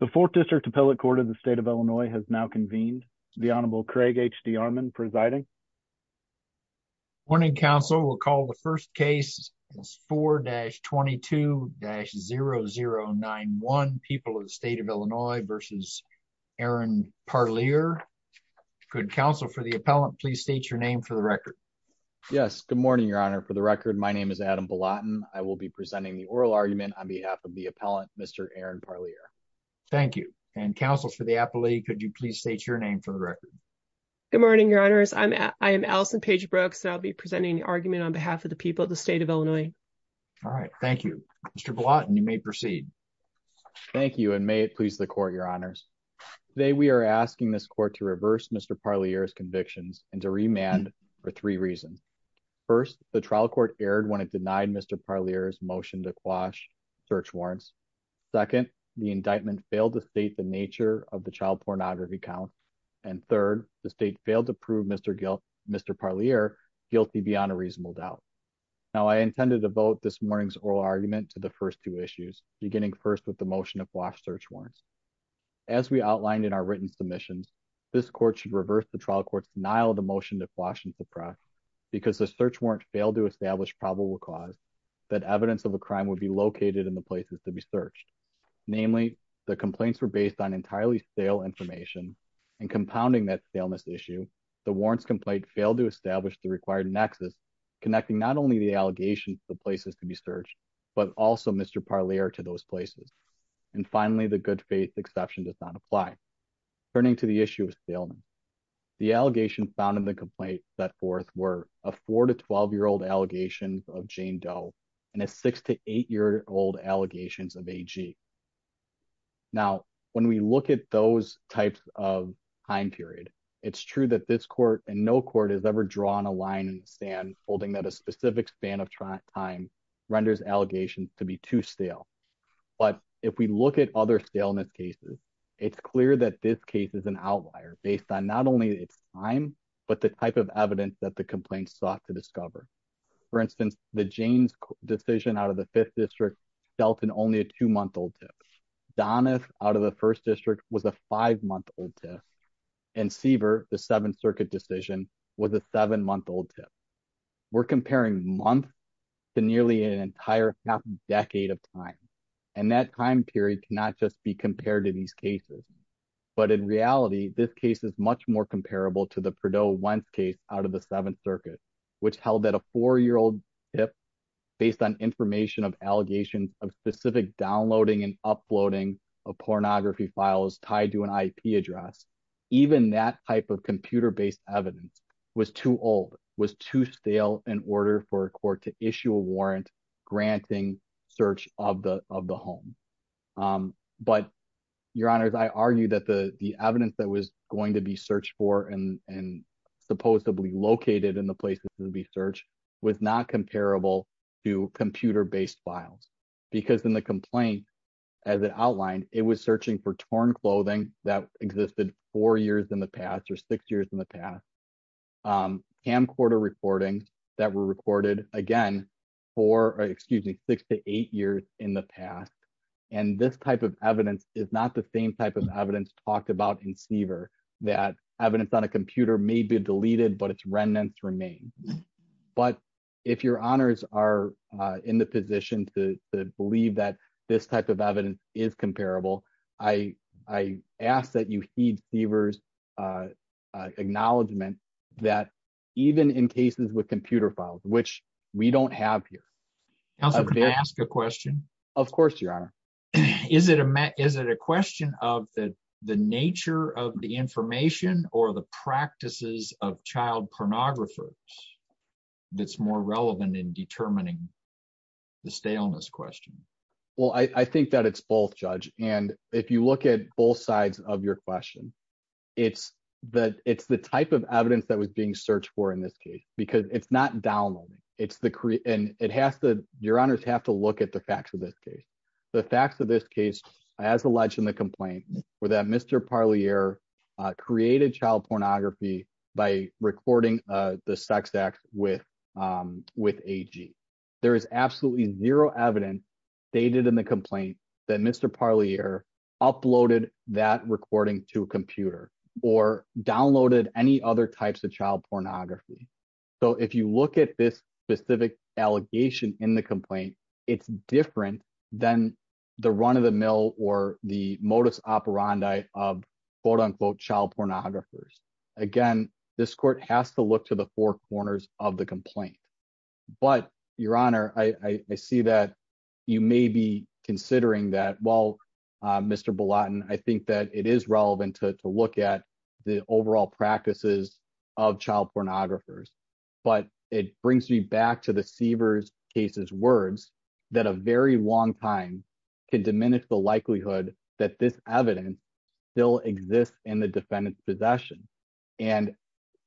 The 4th District Appellate Court of the State of Illinois has now convened. The Honorable Craig H. D. Armon presiding. Morning, counsel. We'll call the first case. It's 4-22-0091, People of the State of Illinois v. Aaron Parlier. Good counsel, for the appellant, please state your name for the record. Yes, good morning, Your Honor. For the record, my name is Adam Belatten. I will be presenting the oral argument on behalf of the appellant, Mr. Aaron Parlier. Thank you. And, counsel, for the appellate, could you please state your name for the record? Good morning, Your Honors. I am Allison Page Brooks, and I'll be presenting the argument on behalf of the People of the State of Illinois. All right, thank you. Mr. Belatten, you may proceed. Thank you, and may it please the Court, Your Honors. Today, we are asking this Court to reverse Mr. Parlier's convictions and to remand for three reasons. First, the trial court erred when it denied Mr. Parlier's motion to quash search warrants. Second, the indictment failed to state the nature of the child pornography count. And third, the State failed to prove Mr. Parlier guilty beyond a reasonable doubt. Now, I intend to devote this morning's oral argument to the first two issues, beginning first with the motion to quash search warrants. As we outlined in our written submissions, this Court should reverse the trial court's denial of the motion to quash and suppress because the search warrant failed to establish probable cause that evidence of a crime would be located in the places to be searched. Namely, the complaints were based on entirely stale information, and compounding that staleness issue, the warrants complaint failed to establish the required nexus connecting not only the allegations to the places to be searched, but also Mr. Parlier to those places. And finally, the good faith exception does not apply. Turning to the issue of staleness, the allegations found set forth were a four to 12 year old allegations of Jane Doe, and a six to eight year old allegations of AG. Now, when we look at those types of time period, it's true that this court and no court has ever drawn a line in the sand, holding that a specific span of time renders allegations to be too stale. But if we look at other staleness cases, it's clear that this case is an outlier based on not only its time, but the type of evidence that the complaint sought to discover. For instance, the Jane's decision out of the fifth district dealt in only a two month old tip. Donna's out of the first district was a five month old tip. And Siever, the Seventh Circuit decision was a seven month old tip. We're comparing month to nearly an entire half decade of time. And that time period cannot just be compared to these cases. But in reality, this case is much more comparable to the Perdoe Wentz case out of the Seventh Circuit, which held that a four year old tip based on information of allegations of specific downloading and uploading of pornography files tied to an IP address. Even that type of computer based evidence was too old, was too stale in order for a court to issue a warrant granting search of the of the home. But, your honors, I argue that the evidence that was going to be searched for and supposedly located in the places to be searched was not comparable to computer based files. Because in the complaint, as it outlined, it was searching for torn clothing that existed four years in the past or six years in the past. Camcorder recordings that were recorded, again, for excuse me, six to eight years in the past. And this type of evidence is not the same type of evidence talked about in Seaver, that evidence on a computer may be deleted, but its remnants remain. But if your honors are in the position to believe that this type of evidence is comparable, I ask that you heed Seaver's acknowledgement that even in cases with computer files, which we don't have here. Counselor, can I ask a question? Of course, your honor. Is it a question of the nature of the information or the practices of child pornographers that's more relevant in determining the staleness question? Well, I think that it's both, Judge. And if you look at both sides of your question, it's the type of evidence that was being searched for in this case, because it's not downloading. Your honors have to look at the facts of this case. The facts of this case, as alleged in the complaint, were that Mr. Parlier created child pornography by recording the sex act with AG. There is absolutely zero evidence stated in the complaint that Mr. Parlier uploaded that recording to a computer or downloaded any other types of child pornography. So if you look at this specific allegation in the complaint, it's different than the run-of-the-mill or the modus operandi of quote-unquote child pornographers. Again, this court has to look to the four corners of the complaint. But your honor, I see that you may be considering that, Mr. Bolotin. I think that it is relevant to look at the overall practices of child pornographers. But it brings me back to the Seavers case's words that a very long time can diminish the likelihood that this evidence still exists in the defendant's possession. And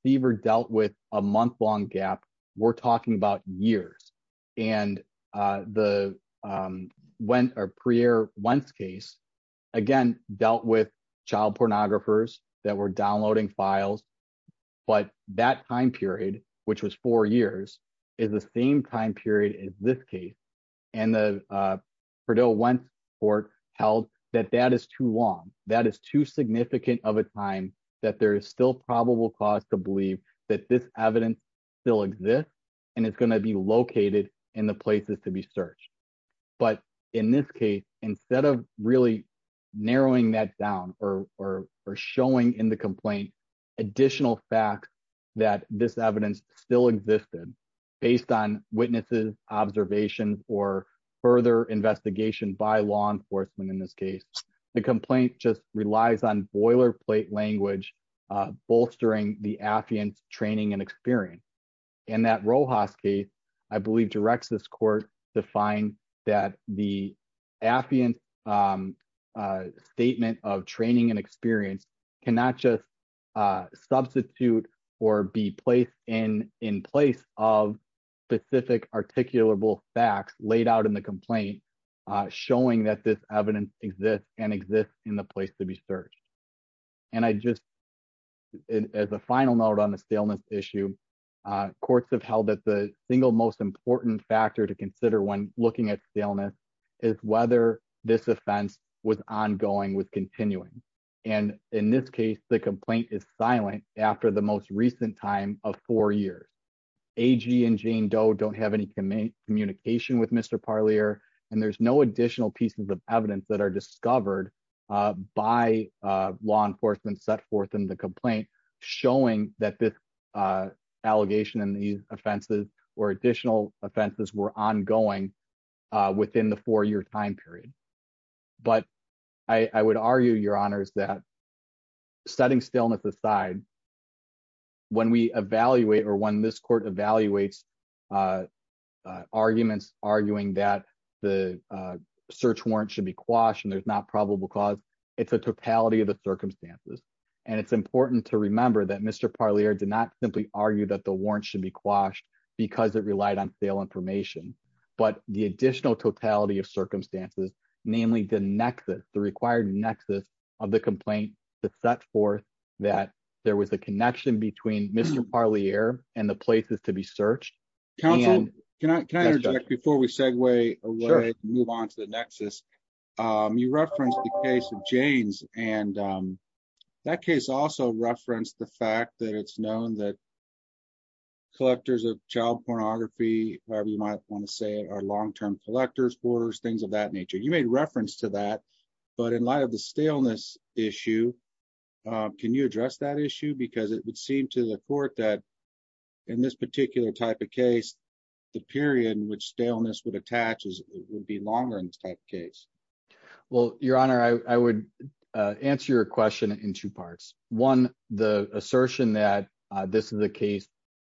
Seavers dealt with a month-long gap. We're talking about years. And the Parlier-Wentz case, again, dealt with child pornographers that were downloading files. But that time period, which was four years, is the same time period as this case. And the still probable cause to believe that this evidence still exists and is going to be located in the places to be searched. But in this case, instead of really narrowing that down or showing in the complaint additional facts that this evidence still existed based on witnesses, observations, or further investigation by law enforcement in this case, the complaint just bolstering the affiant's training and experience. In that Rojas case, I believe directs this court to find that the affiant's statement of training and experience cannot just substitute or be placed in place of specific articulable facts laid out in the complaint showing that this evidence exists and exists in the place to be searched. And I just as a final note on the staleness issue, courts have held that the single most important factor to consider when looking at staleness is whether this offense was ongoing with continuing. And in this case, the complaint is silent after the most recent time of four years. AG and Jane Doe don't have any communication with Mr. Parlier. And there's no additional pieces of evidence that are discovered by law enforcement set forth in the complaint showing that this allegation and these offenses or additional offenses were ongoing within the four-year time period. But I would argue, Your Honors, that setting staleness aside, when we evaluate or when this court evaluates arguments arguing that the search warrant should be quashed and there's not probable cause, it's a totality of the circumstances. And it's important to remember that Mr. Parlier did not simply argue that the warrant should be quashed because it relied on sale information, but the additional totality of circumstances, namely the nexus, the required nexus of the complaint that set forth that there was a connection between Mr. Parlier and the places to be searched. Council, can I interject before we segue away and move on to the nexus? You referenced the case of Jane's and that case also referenced the fact that it's known that collectors of child pornography, however you might want to say, are long-term collectors, hoarders, things of that nature. You made reference to that, but in light of the staleness issue, can you address that issue? Because it would seem to the court that in this particular type of case, the period in which staleness would attach would be longer in this type of case. Well, Your Honor, I would answer your question in two parts. One, the assertion that this is a case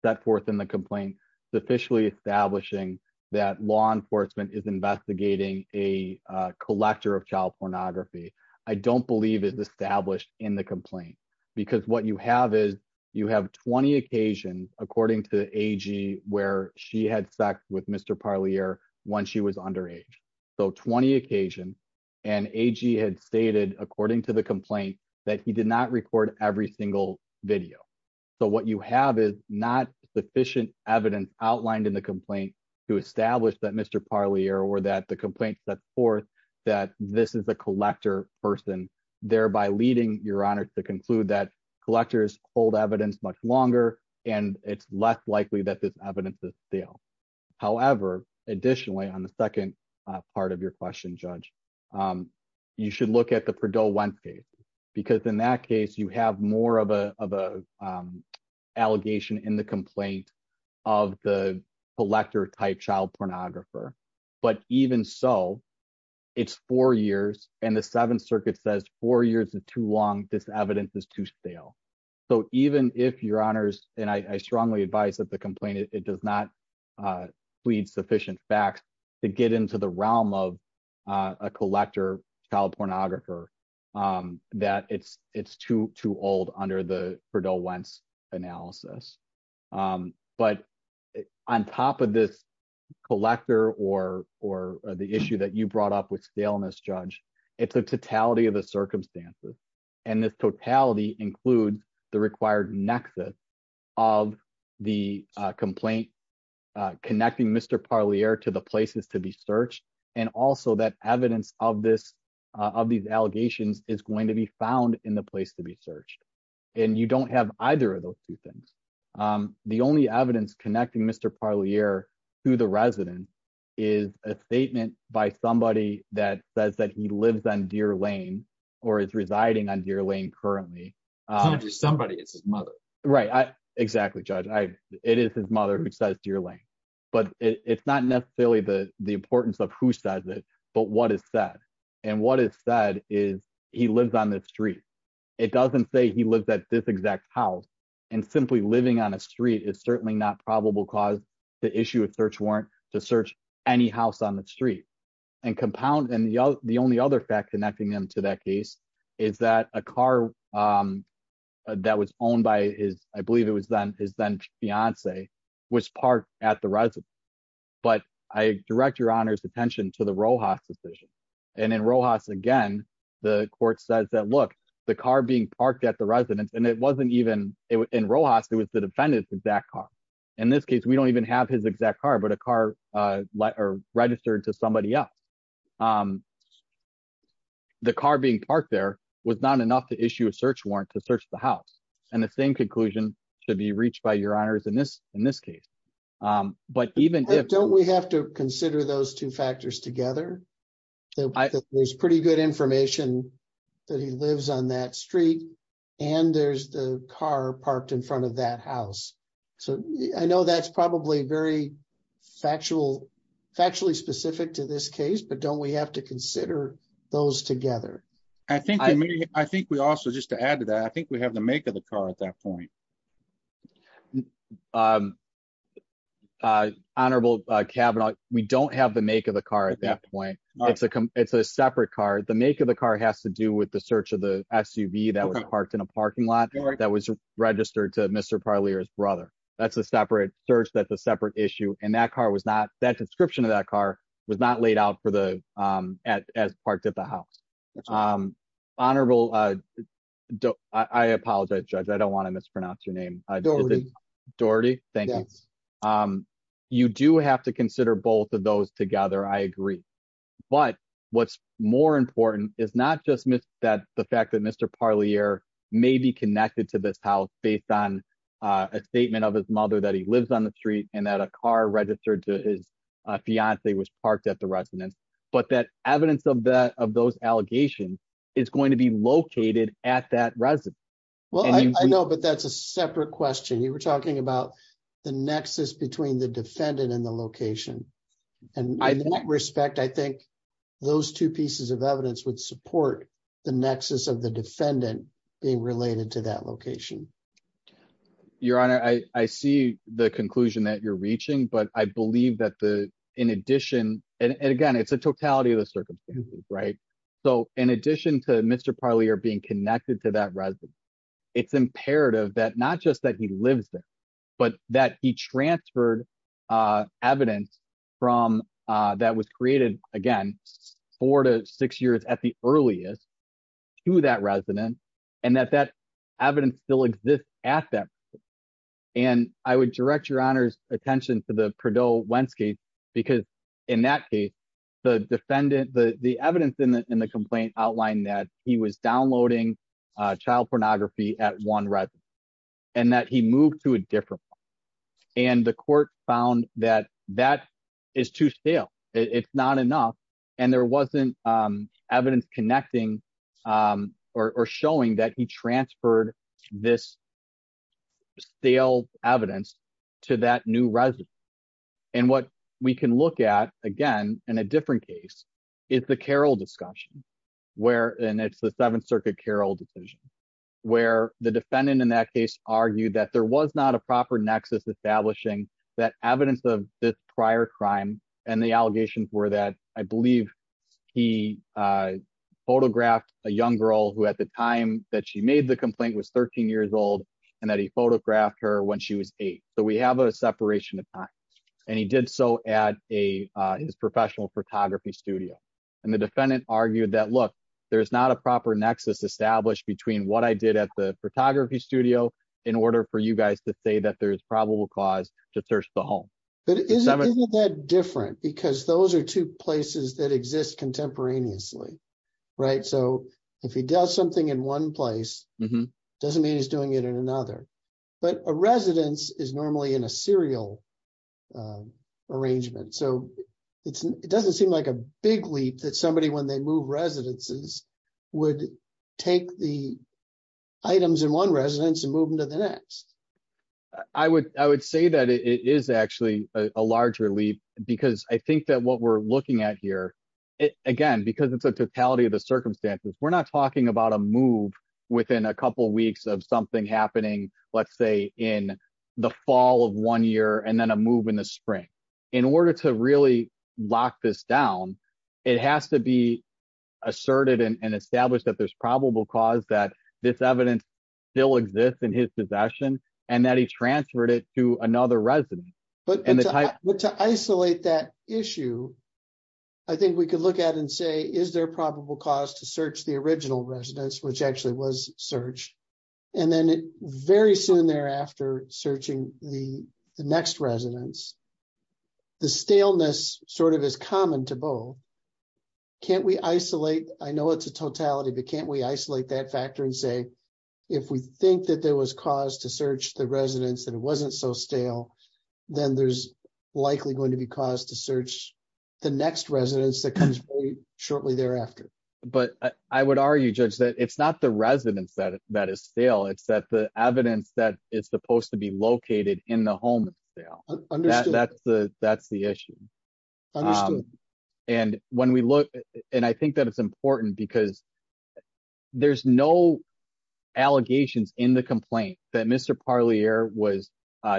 set forth in the complaint is officially establishing that law enforcement is investigating a collector of child pornography. I don't believe it's established in the complaint because what you have is you have 20 occasions, according to AG, where she had sex with Mr. Parlier once she was underage. So 20 occasions, and AG had stated, according to the complaint, that he did not record every single video. So what you have is not sufficient evidence outlined in the complaint to establish that Mr. Parlier or that the complaint sets forth that this is a collector person, thereby leading, Your Honor, to conclude that collectors hold evidence much longer and it's less likely that this evidence is stale. However, additionally, on the second part of your question, Judge, you should look at the Perdoe-Wentz case, because in that case, you have more of an allegation in the complaint of the collector-type child pornographer. But even so, it's four years, and the Seventh Circuit says four years is too long, this evidence is too stale. So even if, Your Honors, and I strongly advise that the complaint, it does not plead sufficient facts to get into the realm of a collector child pornographer, that it's too old under the Perdoe-Wentz analysis. But on top of this collector or the issue that you brought up with staleness, Judge, it's a totality of the circumstances. And this totality includes the required nexus of the complaint connecting Mr. Parlier to the places to be searched. And also that evidence of these allegations is going to be found in the place to be searched. And you don't have either of those two things. The only evidence connecting Mr. Parlier to the resident is a statement by somebody that says that he lives on Deer Lane, or is residing on Deer Lane currently. It's not just somebody, it's his mother. Right. Exactly, Judge. It is his mother who says Deer Lane. But it's not necessarily the importance of who says it, but what is said. And what is said is he lives on this street. It doesn't say he lives at this exact house. And simply living on a street is certainly not probable cause to issue a search warrant to search any house on the street. And compound, and the only other fact connecting them to that case is that a car that was owned by his, I believe it was then his then fiance, was parked at the residence. But I direct your honor's attention to the Rojas decision. And in Rojas, again, the court says that look, the car being parked at the residence and it wasn't even in Rojas, it was the defendant's exact car. In this case, we don't even have his exact car, but a car registered to somebody else. And the car being parked there was not enough to issue a search warrant to search the house. And the same conclusion should be reached by your honors in this case. But even if- Don't we have to consider those two factors together? There's pretty good information that he lives on that street, and there's the car parked in front of that house. I know that's probably very factually specific to this case, but don't we have to consider those together? I think we also, just to add to that, I think we have the make of the car at that point. Honorable Kavanaugh, we don't have the make of the car at that point. It's a separate car. The make of the car has to do with the search of the SUV that was parked in a parking lot that was that's a separate search. That's a separate issue. And that description of that car was not laid out as parked at the house. Honorable, I apologize, Judge. I don't want to mispronounce your name. Doherty. Doherty, thank you. You do have to consider both of those together, I agree. But what's more important is not just the fact that Mr. Parlier may be connected to this house based on statement of his mother that he lives on the street and that a car registered to his fiance was parked at the residence, but that evidence of that of those allegations is going to be located at that residence. Well, I know, but that's a separate question. You were talking about the nexus between the defendant and the location. And in that respect, I think those two pieces of evidence would support the nexus of the defendant being I see the conclusion that you're reaching, but I believe that the in addition, and again, it's a totality of the circumstances, right? So in addition to Mr. Parlier being connected to that residence, it's imperative that not just that he lives there, but that he transferred evidence from that was created, again, four to six years at the earliest to that resident, and that that evidence still exists at that. And I would direct your honor's attention to the Perdoe-Wentz case, because in that case, the defendant, the evidence in the complaint outlined that he was downloading child pornography at one residence, and that he moved to a different one. And the court found that that is too stale. It's not enough. And there wasn't evidence connecting or showing that he transferred this stale evidence to that new residence. And what we can look at, again, in a different case, is the Carroll discussion, where, and it's the Seventh Circuit Carroll decision, where the defendant in that case argued that there was not a proper nexus establishing that evidence of this prior crime. And the allegations were that I believe he photographed a young girl who, at the time that she made the complaint, was 13 years old, and that he photographed her when she was eight. So we have a separation of time. And he did so at his professional photography studio. And the defendant argued that, look, there's not a proper nexus established between what I did at the photography studio in order for you guys to say that there's probable cause to search the home. But isn't that different? Because those are two different things. So if he does something in one place, it doesn't mean he's doing it in another. But a residence is normally in a serial arrangement. So it doesn't seem like a big leap that somebody, when they move residences, would take the items in one residence and move them to the next. I would say that it is actually a larger leap, because I think that what we're not talking about a move within a couple of weeks of something happening, let's say, in the fall of one year and then a move in the spring. In order to really lock this down, it has to be asserted and established that there's probable cause that this evidence still exists in his possession, and that he transferred it to another residence. But to isolate that issue, I think we could look at and say, is there probable cause to search the original residence, which actually was searched? And then very soon thereafter, searching the next residence, the staleness is common to both. Can't we isolate? I know it's a totality, but can't we isolate that factor and say, if we think that there was cause to search the residence and it wasn't so stale, then there's likely going to be cause to search the next residence that comes shortly thereafter. But I would argue, Judge, that it's not the residence that is stale, it's that the evidence that it's supposed to be located in the home is stale. That's the issue. And when we look, and I think that it's important because there's no allegations in the complaint that Mr. Parlier was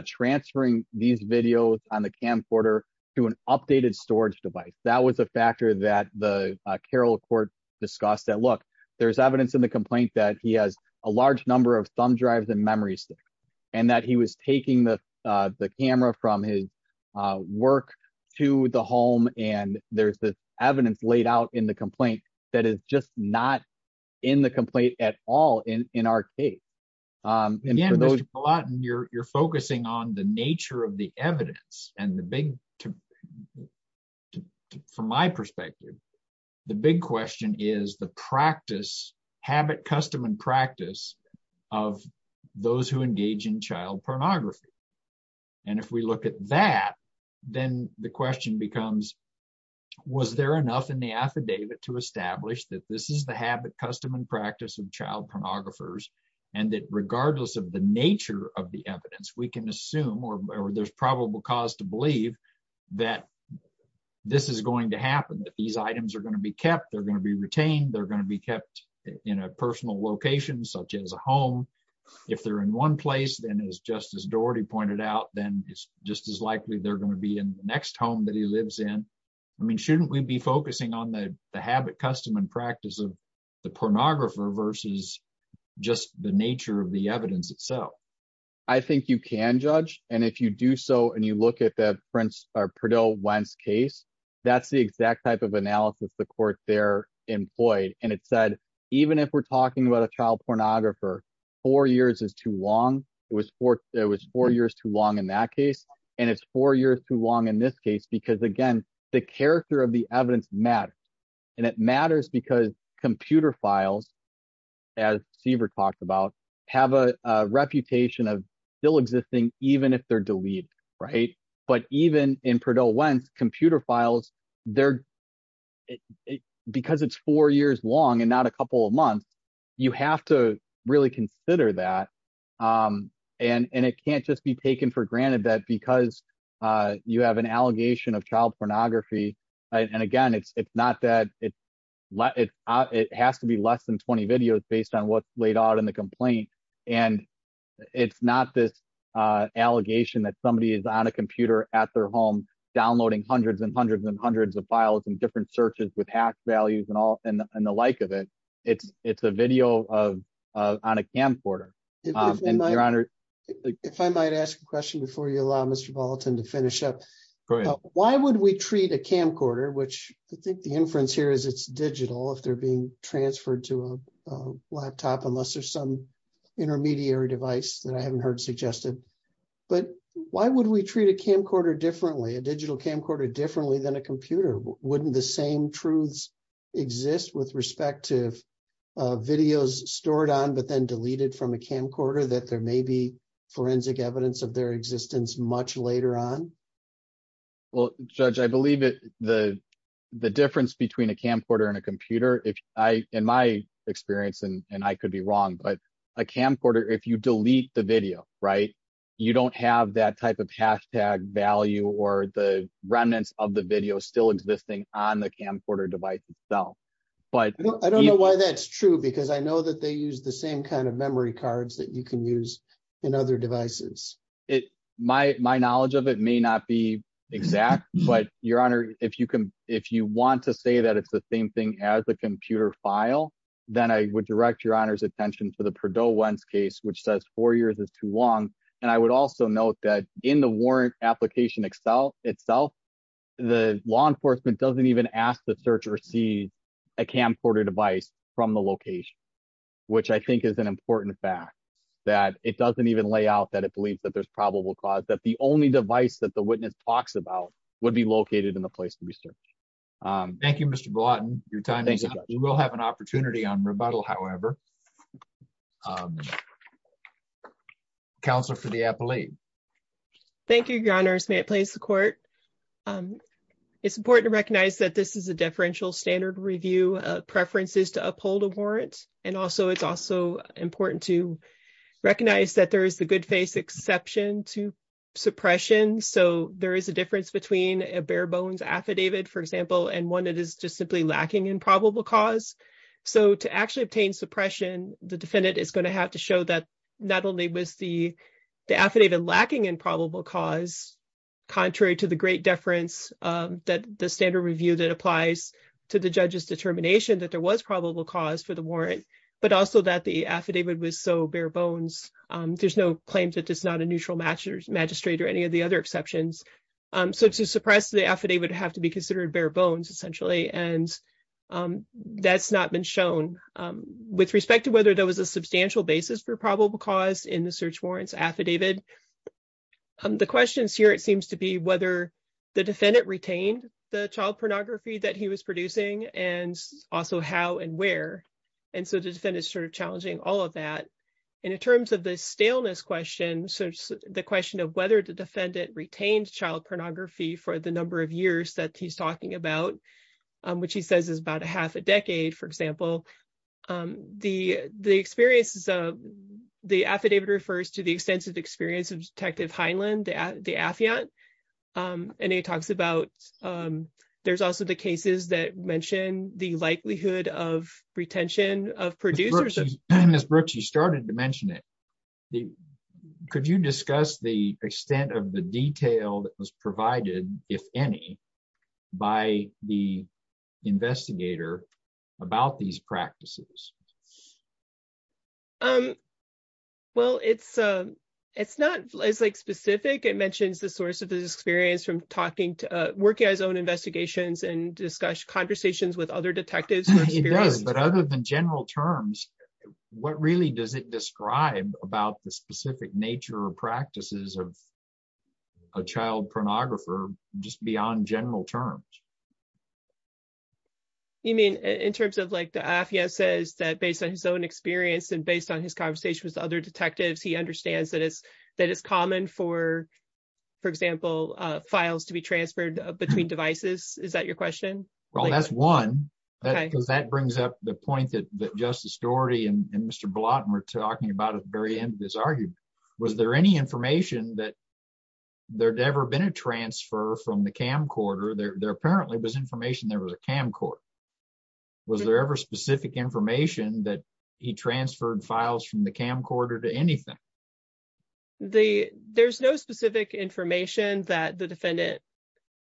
transferring these videos on the camcorder to an updated storage device. That was a factor that the Carroll Court discussed that, look, there's evidence in the complaint that he has a large number of thumb drives and memory sticks, and that he was taking the camera from his work to the home, and there's the evidence laid out in the complaint that is just not in the complaint at all in our case. Again, Mr. Palaten, you're focusing on the nature of the evidence and the big, from my perspective, the big question is the practice, habit, custom, and practice of those who engage in child pornography. And if we look at that, then the question becomes, was there enough in the affidavit to establish that this is the habit, custom, and practice of child pornographers, and that regardless of the nature of the evidence, we can assume, or there's probable cause to believe, that this is going to happen, that these items are going to be kept, they're going to be retained, they're going to be kept in a personal location such as a home. If they're in one place, then as Justice Doherty pointed out, it's just as likely they're going to be in the next home that he lives in. Shouldn't we be focusing on the habit, custom, and practice of the pornographer versus just the nature of the evidence itself? I think you can, Judge. And if you do so, and you look at the Perdoe-Wentz case, that's the exact type of analysis the court there employed. And it said, even if we're and it's four years too long in this case, because again, the character of the evidence matters. And it matters because computer files, as Siever talked about, have a reputation of still existing, even if they're deleted, right? But even in Perdoe-Wentz, computer files, because it's four years long and not a couple of months, you have to really consider that. And it can't just be taken for granted that because you have an allegation of child pornography. And again, it has to be less than 20 videos based on what's laid out in the complaint. And it's not this allegation that somebody is on a computer at their home, downloading hundreds and hundreds and hundreds of files and different searches with hash values and the like of it. It's a video on a camcorder. And Your Honor. If I might ask a question before you allow Mr. Bolton to finish up, why would we treat a camcorder, which I think the inference here is it's digital, if they're being transferred to a laptop, unless there's some intermediary device that I haven't heard suggested. But why would we treat a camcorder differently, a digital camcorder differently than a computer? Wouldn't the same truths exist with respect to videos stored on, but then deleted from a camcorder that there may be forensic evidence of their existence much later on? Well, Judge, I believe that the difference between a camcorder and a computer, in my experience, and I could be wrong, but a camcorder, if you delete the video, right, you don't have that type of hashtag value or the remnants of the video still existing on the camcorder device itself. But I don't know why that's true, because I know that they use the same kind of memory cards that you can use in other devices. My knowledge of it may not be exact, but Your Honor, if you can, if you want to say that it's the same thing as a computer file, then I would direct Your Honor's case, which says four years is too long. And I would also note that in the warrant application Excel itself, the law enforcement doesn't even ask the search or see a camcorder device from the location, which I think is an important fact that it doesn't even lay out that it believes that there's probable cause that the only device that the witness talks about would be located in the place to be searched. Thank you, Mr. Blatton. Your time is up. We will have an opportunity on rebuttal, however. Counselor for the appellate. Thank you, Your Honor. May it please the court. It's important to recognize that this is a differential standard review of preferences to uphold a warrant. And also, it's also important to recognize that there is the good face exception to suppression. So there is a difference between a bare bones affidavit, for example, and one that is just simply lacking in probable cause. So to actually obtain suppression, the defendant is going to have to show that not only was the affidavit lacking in probable cause, contrary to the great deference that the standard review that applies to the judge's determination that there was probable cause for the warrant, but also that the affidavit was so bare bones. There's no claim that it's not a neutral magistrate or any of the other exceptions. So to suppress the affidavit would have to be and that's not been shown with respect to whether there was a substantial basis for probable cause in the search warrants affidavit. The questions here, it seems to be whether the defendant retained the child pornography that he was producing and also how and where. And so the defendant is sort of challenging all of that. And in terms of the staleness question, the question of whether the defendant retained child pornography for the number of years that he's talking about, which he says is about a half a decade, for example, the affidavit refers to the extensive experience of Detective Heinlein, the affiant. And he talks about, there's also the cases that mention the likelihood of retention of producers. Ms. Brooks, you started to mention it. Could you discuss the extent of the detail that was provided, if any, by the investigator about these practices? Well, it's not as like specific. It mentions the source of his experience from talking to, working on his own investigations and discuss conversations with other detectives. It does, but other than general terms, what really does it describe about the specific nature or practices of a child pornographer, just beyond general terms? You mean in terms of like the affiant says that based on his own experience and based on his conversations with other detectives, he understands that it's common for, for example, files to be transferred between devices. Is that your question? Well, that's one, because that brings up the point that Justice Doherty and Mr. Blatt were talking about at the very end of this argument. Was there any information that there'd ever been a transfer from the camcorder? There apparently was information there was a camcorder. Was there ever specific information that he transferred files from the camcorder to anything? There's no specific information that the defendant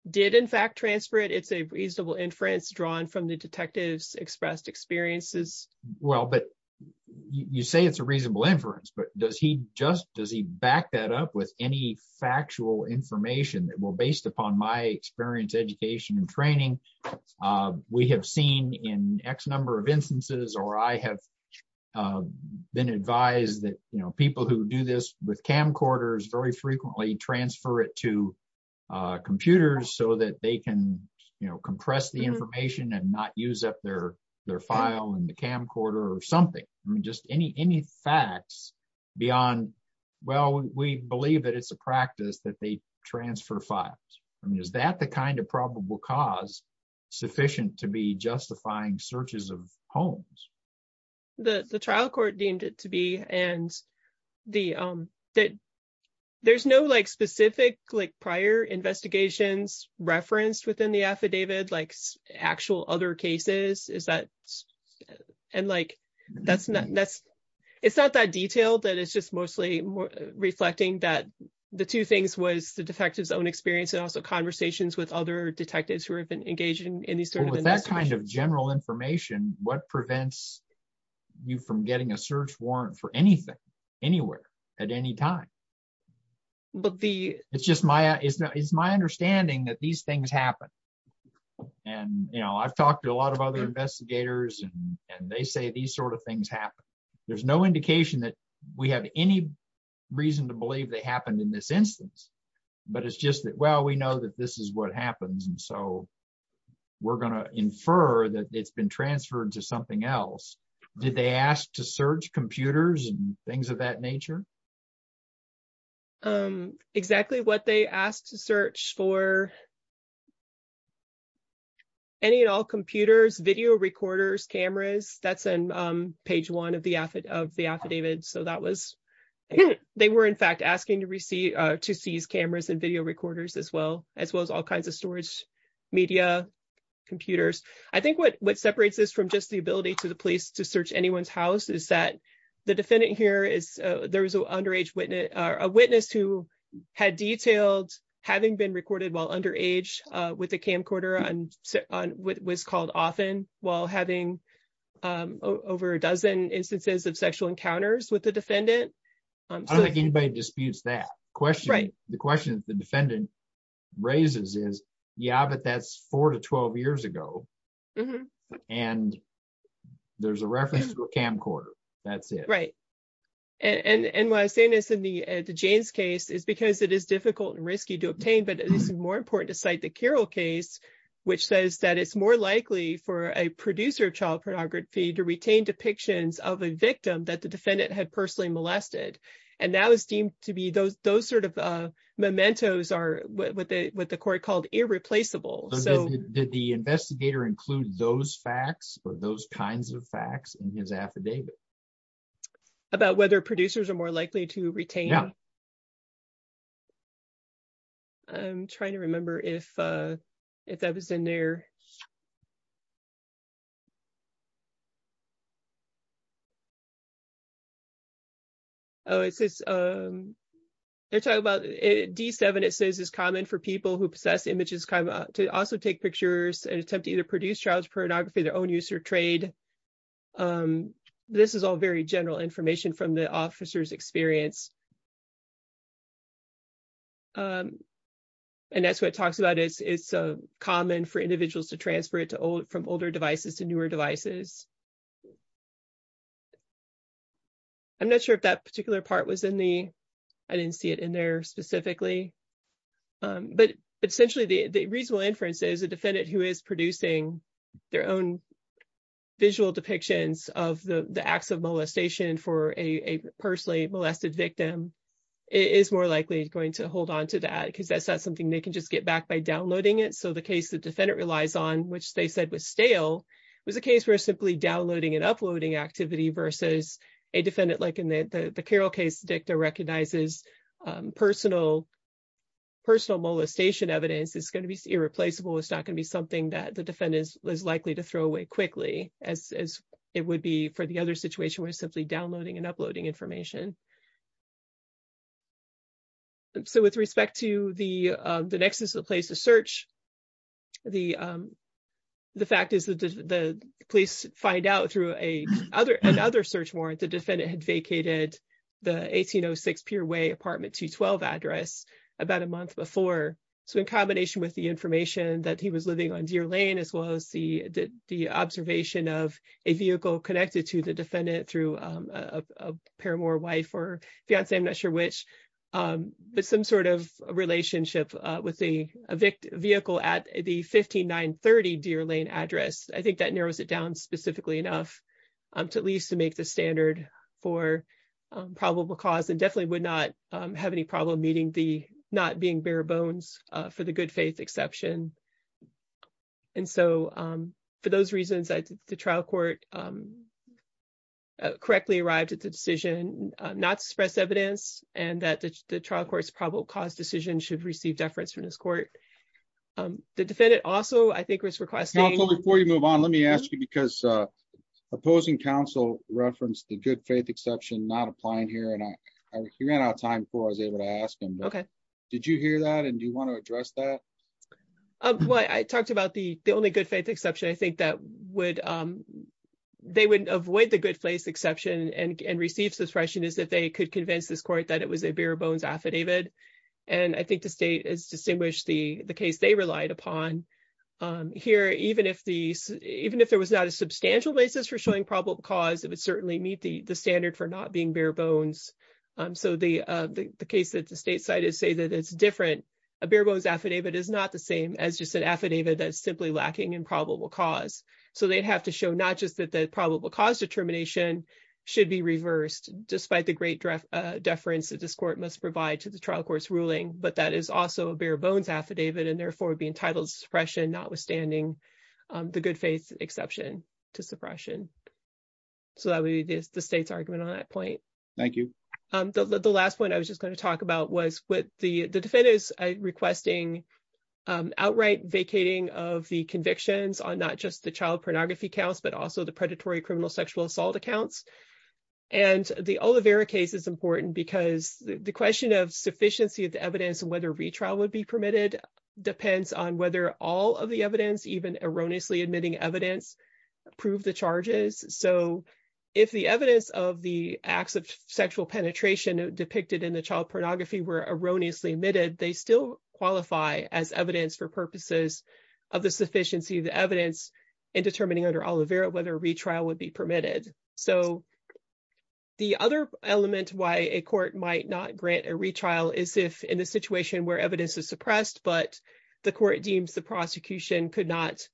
did in fact transfer it. It's a reasonable inference drawn from the detective's expressed experiences. Well, but you say it's a reasonable inference, but does he just, does he back that up with any factual information that, well, based upon my experience, education and training, we have seen in X number of instances, or I have been advised that, you know, people who do this with camcorders very frequently transfer it to computers so that they can, you know, compress the information and not use up their, their file in the camcorder or something. I mean, just any, any facts beyond, well, we believe that it's a practice that they transfer files. I mean, is that the kind of probable cause sufficient to be justifying searches of homes? The, the trial court deemed it to be, and the, that there's no like specific, like prior investigations referenced within the affidavit, like actual other cases is that, and like, that's not, that's, it's not that detailed that it's just mostly reflecting that the two things was the defective's own experience and also conversations with other detectives who have engaged in any sort of investigation. With that kind of general information, what prevents you from getting a search warrant for anything, anywhere, at any time? But the... It's just my, it's not, it's my understanding that these things happen. And, you know, I've talked to a lot of other investigators and they say these sort of things happen. There's no indication that we have any reason to believe they happened in this instance, but it's just that, well, we know that this is what happens. And so we're going to infer that it's been transferred to something else. Did they ask to search computers and things of that nature? Exactly what they asked to search for any and all computers, video recorders, cameras, that's on page one of the affidavit. So that was, they were in fact asking to receive, to seize cameras and video recorders as well, as well as all kinds of storage, media, computers. I think what separates this from just the ability to the police to search anyone's house is that the defendant here is, there was an underage witness, a witness who had detailed having been recorded while underage with a camcorder on what was called often while having over a dozen instances of sexual encounters with the defendant. I don't think anybody disputes that question. The question that the defendant raises is, yeah, but that's four to 12 years ago and there's a reference to a camcorder. That's it. Right. And why I say this in the Jaynes case is because it is difficult and risky to obtain, but it's more important to cite the Carroll case, which says that it's more likely for a producer of child pornography to retain depictions of a victim that the defendant had personally molested. And that was deemed to be those sort of mementos are what the court called irreplaceable. So did the investigator include those facts or those kinds of facts in his affidavit? About whether producers are more likely to retain. I'm trying to remember if if that was in there. Oh, it says they're talking about D7, it says is common for people who possess images to also take pictures and attempt to either produce child's pornography, their own use or trade. This is all very general information from the officer's experience. And that's what it talks about is it's common for individuals to transfer it to old from older devices to newer devices. I'm not sure if that particular part was in the I didn't see it in there specifically. But essentially, the reasonable inference is a defendant who is producing their own visual depictions of the acts of molestation for a personally molested victim is more likely going to hold on to that because that's not something they can just get back by downloading it. So the case the defendant relies on, which they said was stale, was a case where simply downloading and uploading activity versus a defendant, like in the Carroll case, Dicta recognizes personal. Personal molestation evidence is going to be irreplaceable. It's not going to be something that the defendant is likely to throw away quickly, as it would be for the other situation where simply downloading and uploading information. So with respect to the next is the place to search. The the fact is that the police find out through a other another search warrant, the defendant had vacated the 1806 Peerway apartment to 12 address about a month before. So in combination with the information that he was living on Deer Lane, as well as the observation of a vehicle connected to the defendant through a pair more wife or fiance, I'm not sure which, but some sort of relationship with the vehicle at the 5930 Deer Lane address. I think that narrows it down specifically enough to at least to make the standard for probable cause and definitely would not have any problem meeting the not being bare bones for the good faith exception. And so for those reasons, the trial court correctly arrived at the decision not to express evidence and that the trial court's probable cause decision should receive deference from this court. The defendant also, I think, was requesting before you move on. Let me ask you, because opposing counsel referenced the good faith exception not applying here. And I ran out of time before I was able to ask him, OK, did you hear that? And do you want to address that? Well, I talked about the only good faith exception, I think that would they would avoid the good place exception and receive suppression is that they could convince this court that it was a bare bones affidavit. And I think the state is distinguished the case they relied upon here, even if the even if there was not a substantial basis for showing probable cause, it would certainly meet the standard for not being bare bones. So the case that the state cited say that it's different. A bare bones affidavit is not the same as just an affidavit that is simply lacking in probable cause. So they'd have to show not just that the probable cause determination should be reversed, despite the great deference that this court must provide to the trial court's ruling. But that is also a bare bones affidavit and therefore be entitled suppression, notwithstanding the good faith exception to suppression. So that would be the state's argument on that point. Thank you. The last one I was just going to talk about was what the defendants requesting outright vacating of the convictions on not just the child pornography counts, but also the predatory criminal sexual assault accounts. And the Olivera case is important because the question of sufficiency of the evidence and whether retrial would be permitted depends on whether all of the evidence, even erroneously admitting evidence, prove the charges. So if the evidence of the acts of sexual penetration depicted in the child pornography were erroneously admitted, they still qualify as evidence for purposes of the sufficiency of the evidence in determining under Olivera whether a retrial would be permitted. So the other element why a court might not grant a retrial is if in a situation where evidence is the court deems the prosecution could not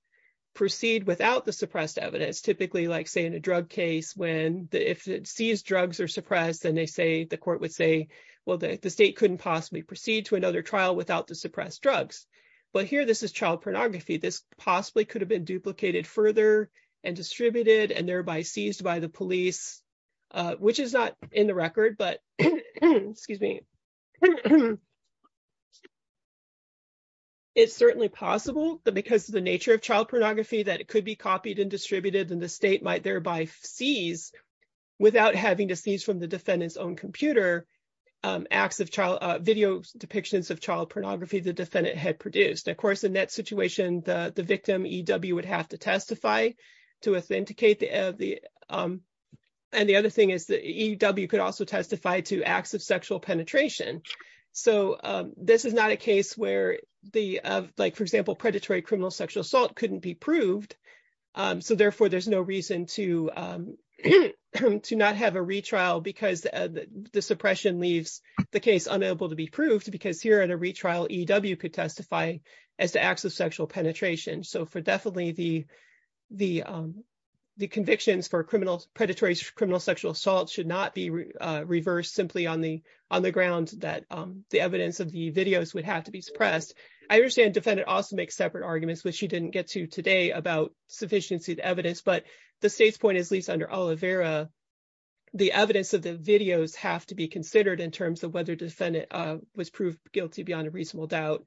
proceed without the suppressed evidence, typically like, say, in a drug case when if it sees drugs are suppressed and they say, the court would say, well, the state couldn't possibly proceed to another trial without the suppressed drugs. But here this is child pornography. This possibly could have been duplicated further and distributed and thereby seized by the police, which is not in the record. But it's certainly possible that because of the nature of child pornography, that it could be copied and distributed and the state might thereby seize without having to seize from the defendant's own computer acts of child video depictions of child pornography the defendant had produced. Of course, in that situation, the victim E.W. would have to testify to authenticate the and the other thing is that E.W. could also testify to acts of sexual penetration. So this is not a case where the like, for example, predatory criminal sexual assault couldn't be proved. So therefore, there's no reason to to not have a retrial because the suppression leaves the case unable to be proved because here at a retrial, E.W. could predatory criminal sexual assault should not be reversed simply on the on the ground that the evidence of the videos would have to be suppressed. I understand defendant also makes separate arguments, which you didn't get to today about sufficiency of evidence. But the state's point is least under Olivera. The evidence of the videos have to be considered in terms of whether defendant was proved guilty beyond a reasonable doubt.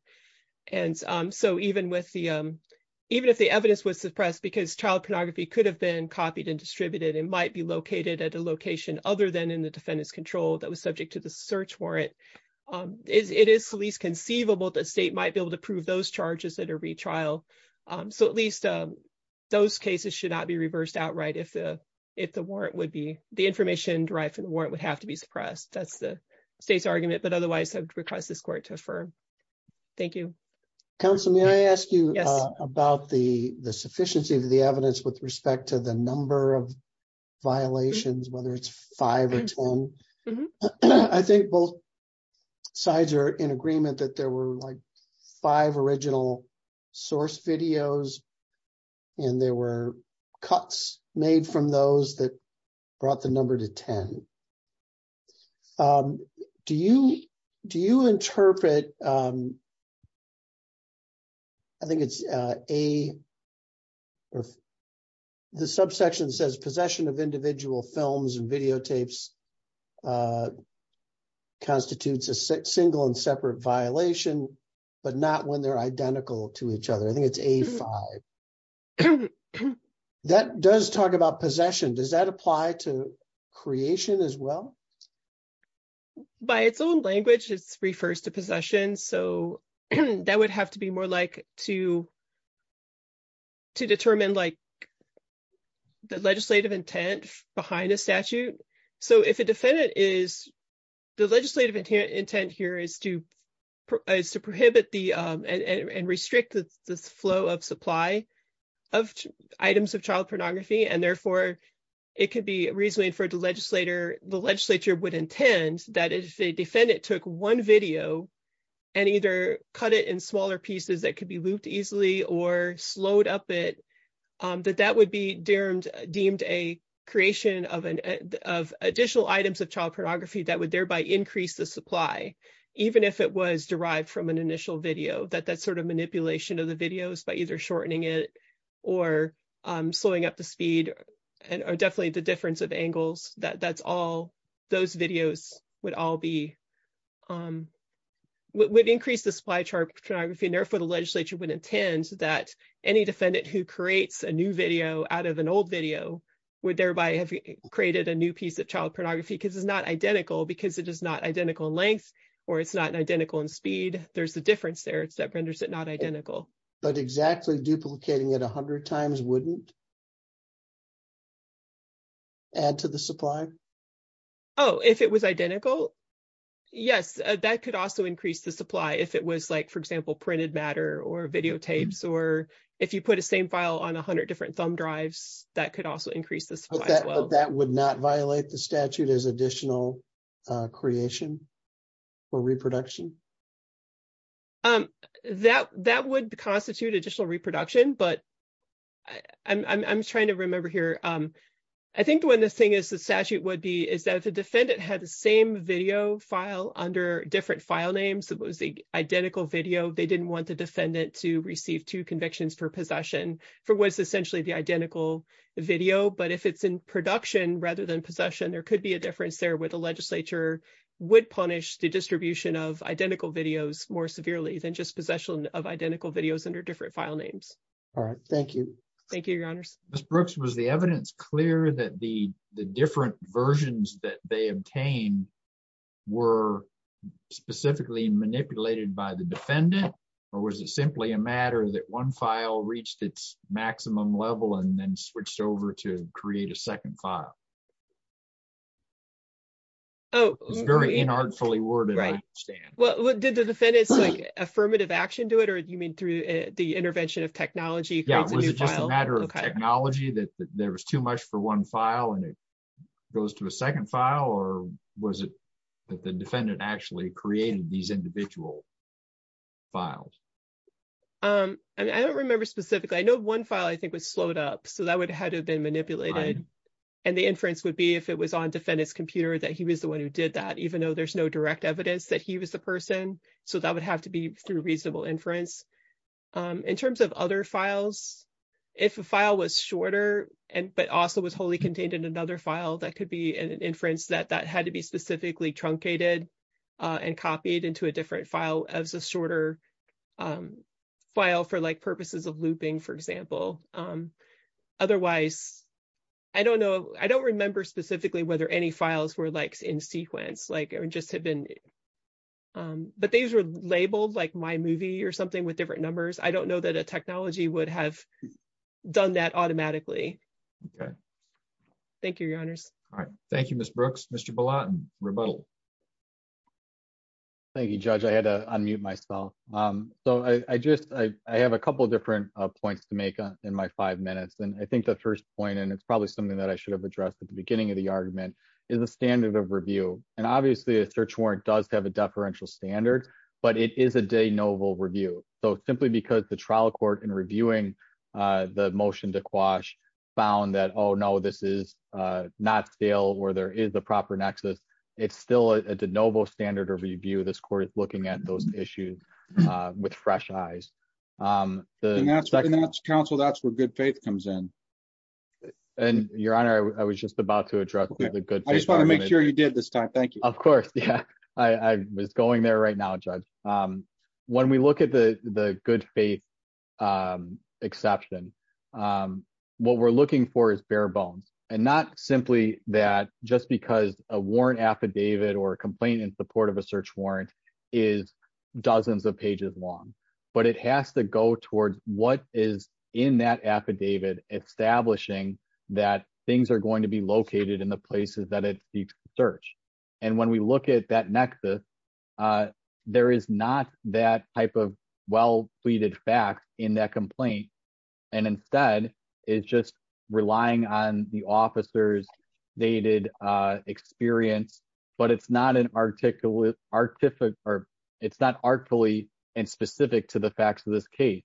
And so even with the evidence was suppressed because child pornography could have been copied and distributed and might be located at a location other than in the defendant's control that was subject to the search warrant, it is least conceivable that state might be able to prove those charges at a retrial. So at least those cases should not be reversed outright if the if the warrant would be the information derived from the warrant would have to be suppressed. That's the state's argument. But otherwise, I would request this court to affirm. Thank you. Councilman, I asked you about the the sufficiency of the evidence with respect to the number of violations, whether it's five or 10. I think both sides are in agreement that there were like five original source videos. And there were cuts made from those that brought the number to 10. Do you do you interpret. I think it's a. The subsection says possession of individual films and videotapes constitutes a single and separate violation, but not when they're identical to each other. I think it's a five. That does talk about possession. Does that apply to creation as well? By its own language, it's refers to possession. So that would have to be more like to. To determine like the legislative intent behind a statute. So if a defendant is the legislative intent here is to prohibit the and restrict the flow of supply of items of child pornography, and therefore it could be reasonably for the legislature. The legislature would intend that if a defendant took one video. And either cut it in smaller pieces that could be looped easily or slowed up it that that would be deemed deemed a creation of an of additional items of child supply. Even if it was derived from an initial video that that sort of manipulation of the videos by either shortening it or slowing up the speed and are definitely the difference of angles that that's all those videos would all be. Would increase the supply chart photography and therefore the legislature would intend that any defendant who creates a new video out of an old video would thereby have created a new piece of child pornography because it's not identical because it is not identical length or it's not identical in speed. There's a difference there. It's that renders it not identical, but exactly duplicating it 100 times wouldn't. Add to the supply. Oh, if it was identical. Yes, that could also increase the supply if it was like, for example, printed matter or videotapes, or if you put the same file on 100 different thumb drives that could also increase the that would not violate the statute as additional creation. For reproduction. Um, that that would constitute additional reproduction, but. I'm I'm trying to remember here. I think when this thing is, the statute would be is that the defendant had the same video file under different file names. It was the identical video. They didn't want the defendant to receive 2 convictions for possession for what's essentially the identical video, but if it's in production rather than possession, there could be a difference there with the legislature would punish the distribution of identical videos more severely than just possession of identical videos under different file names. All right, thank you. Thank you. Ms. Brooks, was the evidence clear that the different versions that they obtained were specifically manipulated by the defendant? Or was it simply a matter that one file reached its maximum level and then switched over to create a second file? Oh, it's very inartfully worded. I understand. Well, what did the defendants like affirmative action to it? Or do you mean through the intervention of technology? Yeah, it was just a matter of technology that there was too much for one file and it goes to a second file. Or was it that the defendant actually created these individual files? I don't remember specifically. I know one file I think was slowed up, so that would have been manipulated and the inference would be if it was on defendant's computer that he was the one who did that, even though there's no direct evidence that he was the person, so that would have to be through reasonable inference. In terms of other files, if a file was shorter and but also was wholly contained in another file, that could be an specifically truncated and copied into a different file as a shorter file for purposes of looping, for example. Otherwise, I don't remember specifically whether any files were in sequence. But these were labeled like my movie or something with different numbers. I don't know that a technology would have done that automatically. Okay. Thank you, Your Honors. All right. Thank you, Ms. Brooks. Mr. Balot, rebuttal. Thank you, Judge. I had to unmute myself. I have a couple of different points to make in my five minutes. I think the first point, and it's probably something that I should have addressed at the beginning of the argument, is the standard of review. Obviously, a search warrant does have a deferential standard, but it is a de novo review. Simply because the trial court in reviewing the motion to quash found that, oh, no, this is not stale or there is a proper nexus. It's still a de novo standard of review. This court is looking at those issues with fresh eyes. And that's counsel. That's where good faith comes in. And Your Honor, I was just about to address the good. I just want to make sure you did this time. Thank you. Of course. Yeah, I was going there right now, Judge. When we look at the good faith exception, what we're looking for is bare bones. And not simply that just because a warrant affidavit or a complaint in support of a search warrant is dozens of pages long. But it has to go towards what is in that affidavit establishing that things are going to be located in the places that it seeks to search. And when we look at that nexus, there is not that type of well pleaded facts in that complaint. And instead, it's just relying on the officer's dated experience. But it's not artfully and specific to the facts of this case.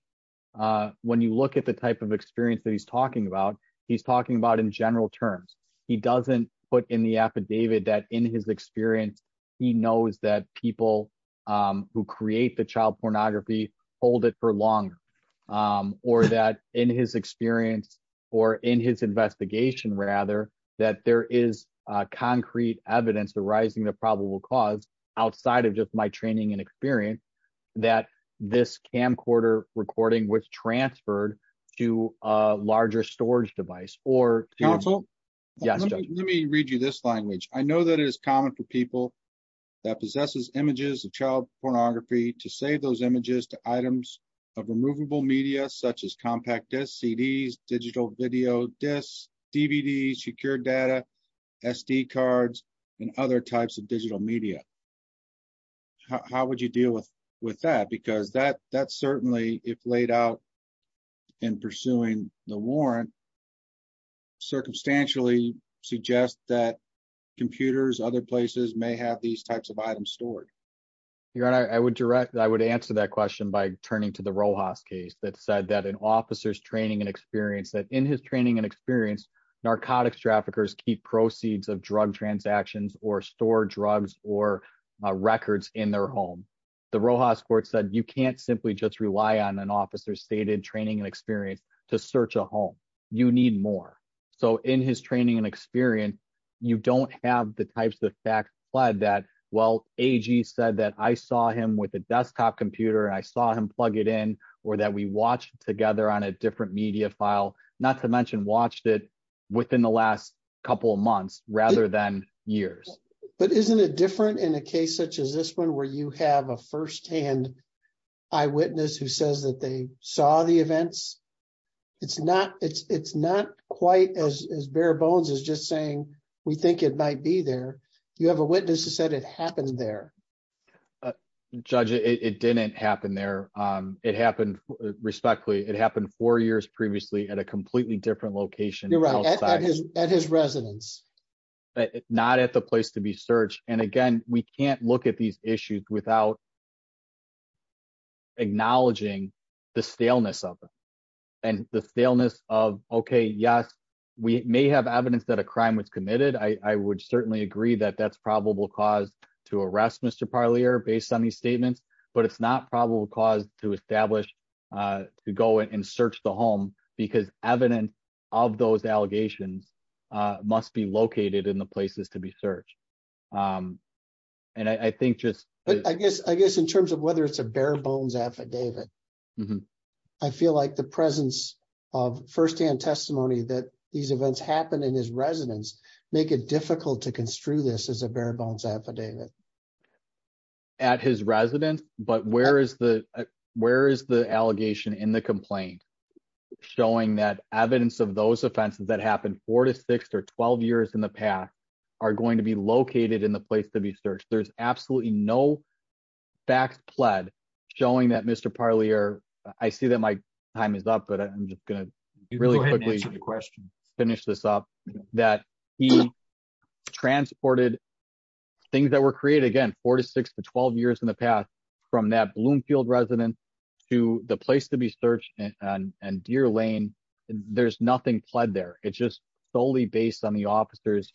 When you look at the type of experience that he's talking about, he's talking about in general terms, he doesn't put in the affidavit that in his experience, he knows that people who create the child pornography hold it for longer, or that in his experience, or in his investigation, rather, that there is concrete evidence arising the probable cause outside of just my training and experience, that this camcorder recording was transferred to a larger storage device or counsel. Yes, let me read you this language. I know that is common for people that possesses images of child pornography to save those images to items of removable media such as compact CDs, digital video discs, DVDs, secure data, SD cards, and other types of digital media. How would you deal with with that? Because that certainly if laid out in pursuing the warrant, circumstantially suggest that computers other places may have these types of items stored? Your Honor, I would direct I would answer that question by turning to the Rojas case that said that an officer's training and experience that in his training and experience, narcotics traffickers keep proceeds of drug transactions or store drugs or records in their home. The Rojas court said you can't simply just rely on an officer stated training and experience to search a home, you need more. So in his training and experience, you don't have the types of facts that well, AG said that I saw him with a desktop computer, I saw him plug it in, or that we watched together on a different media file, not to mention watched it within the last couple of months, rather than years. But isn't it different in a case such as this one where you have a firsthand eyewitness who says that they saw the events? It's not it's not quite as bare bones as just saying, we think it might be there. You have a witness who said it happened there. Judge, it didn't happen there. It happened. Respectfully, it happened four years previously at a completely different location at his residence, but not at the place to be searched. And again, we can't look at these issues without acknowledging the staleness of them. And the staleness of okay, yes, we may have evidence that a crime was committed. I would certainly agree that that's probable cause to arrest Mr. Parlier based on these statements. But it's not probable cause to establish, to go in and search the home, because evidence of those allegations must be located in the places to be searched. And I think just... I guess in terms of whether it's a bare bones affidavit, I feel like the presence of firsthand testimony that these events happened in his residence make it difficult to construe this as a bare bones affidavit. At his residence, but where is the allegation in the complaint showing that evidence of those offenses that happened four to six or 12 years in the past are going to be located in the place to be searched? There's absolutely no facts pled showing that Mr. Parlier... I see that my time is up, but I'm just going to really quickly finish this up. That he transported things that were created, again, four to six to 12 years in the past, from that Bloomfield residence to the place to be searched and Deer Lane, there's nothing pled there. It's just solely based on the officer's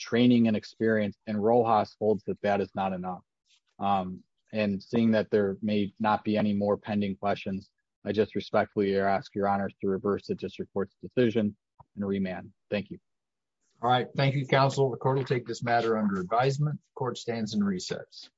training and experience and Rojas holds that that is not enough. And seeing that there may not be any more pending questions, I just respectfully ask your honors to reverse the district court's decision and remand. Thank you. All right. Thank you, counsel. The court will take this matter under advisement. Court stands in recess.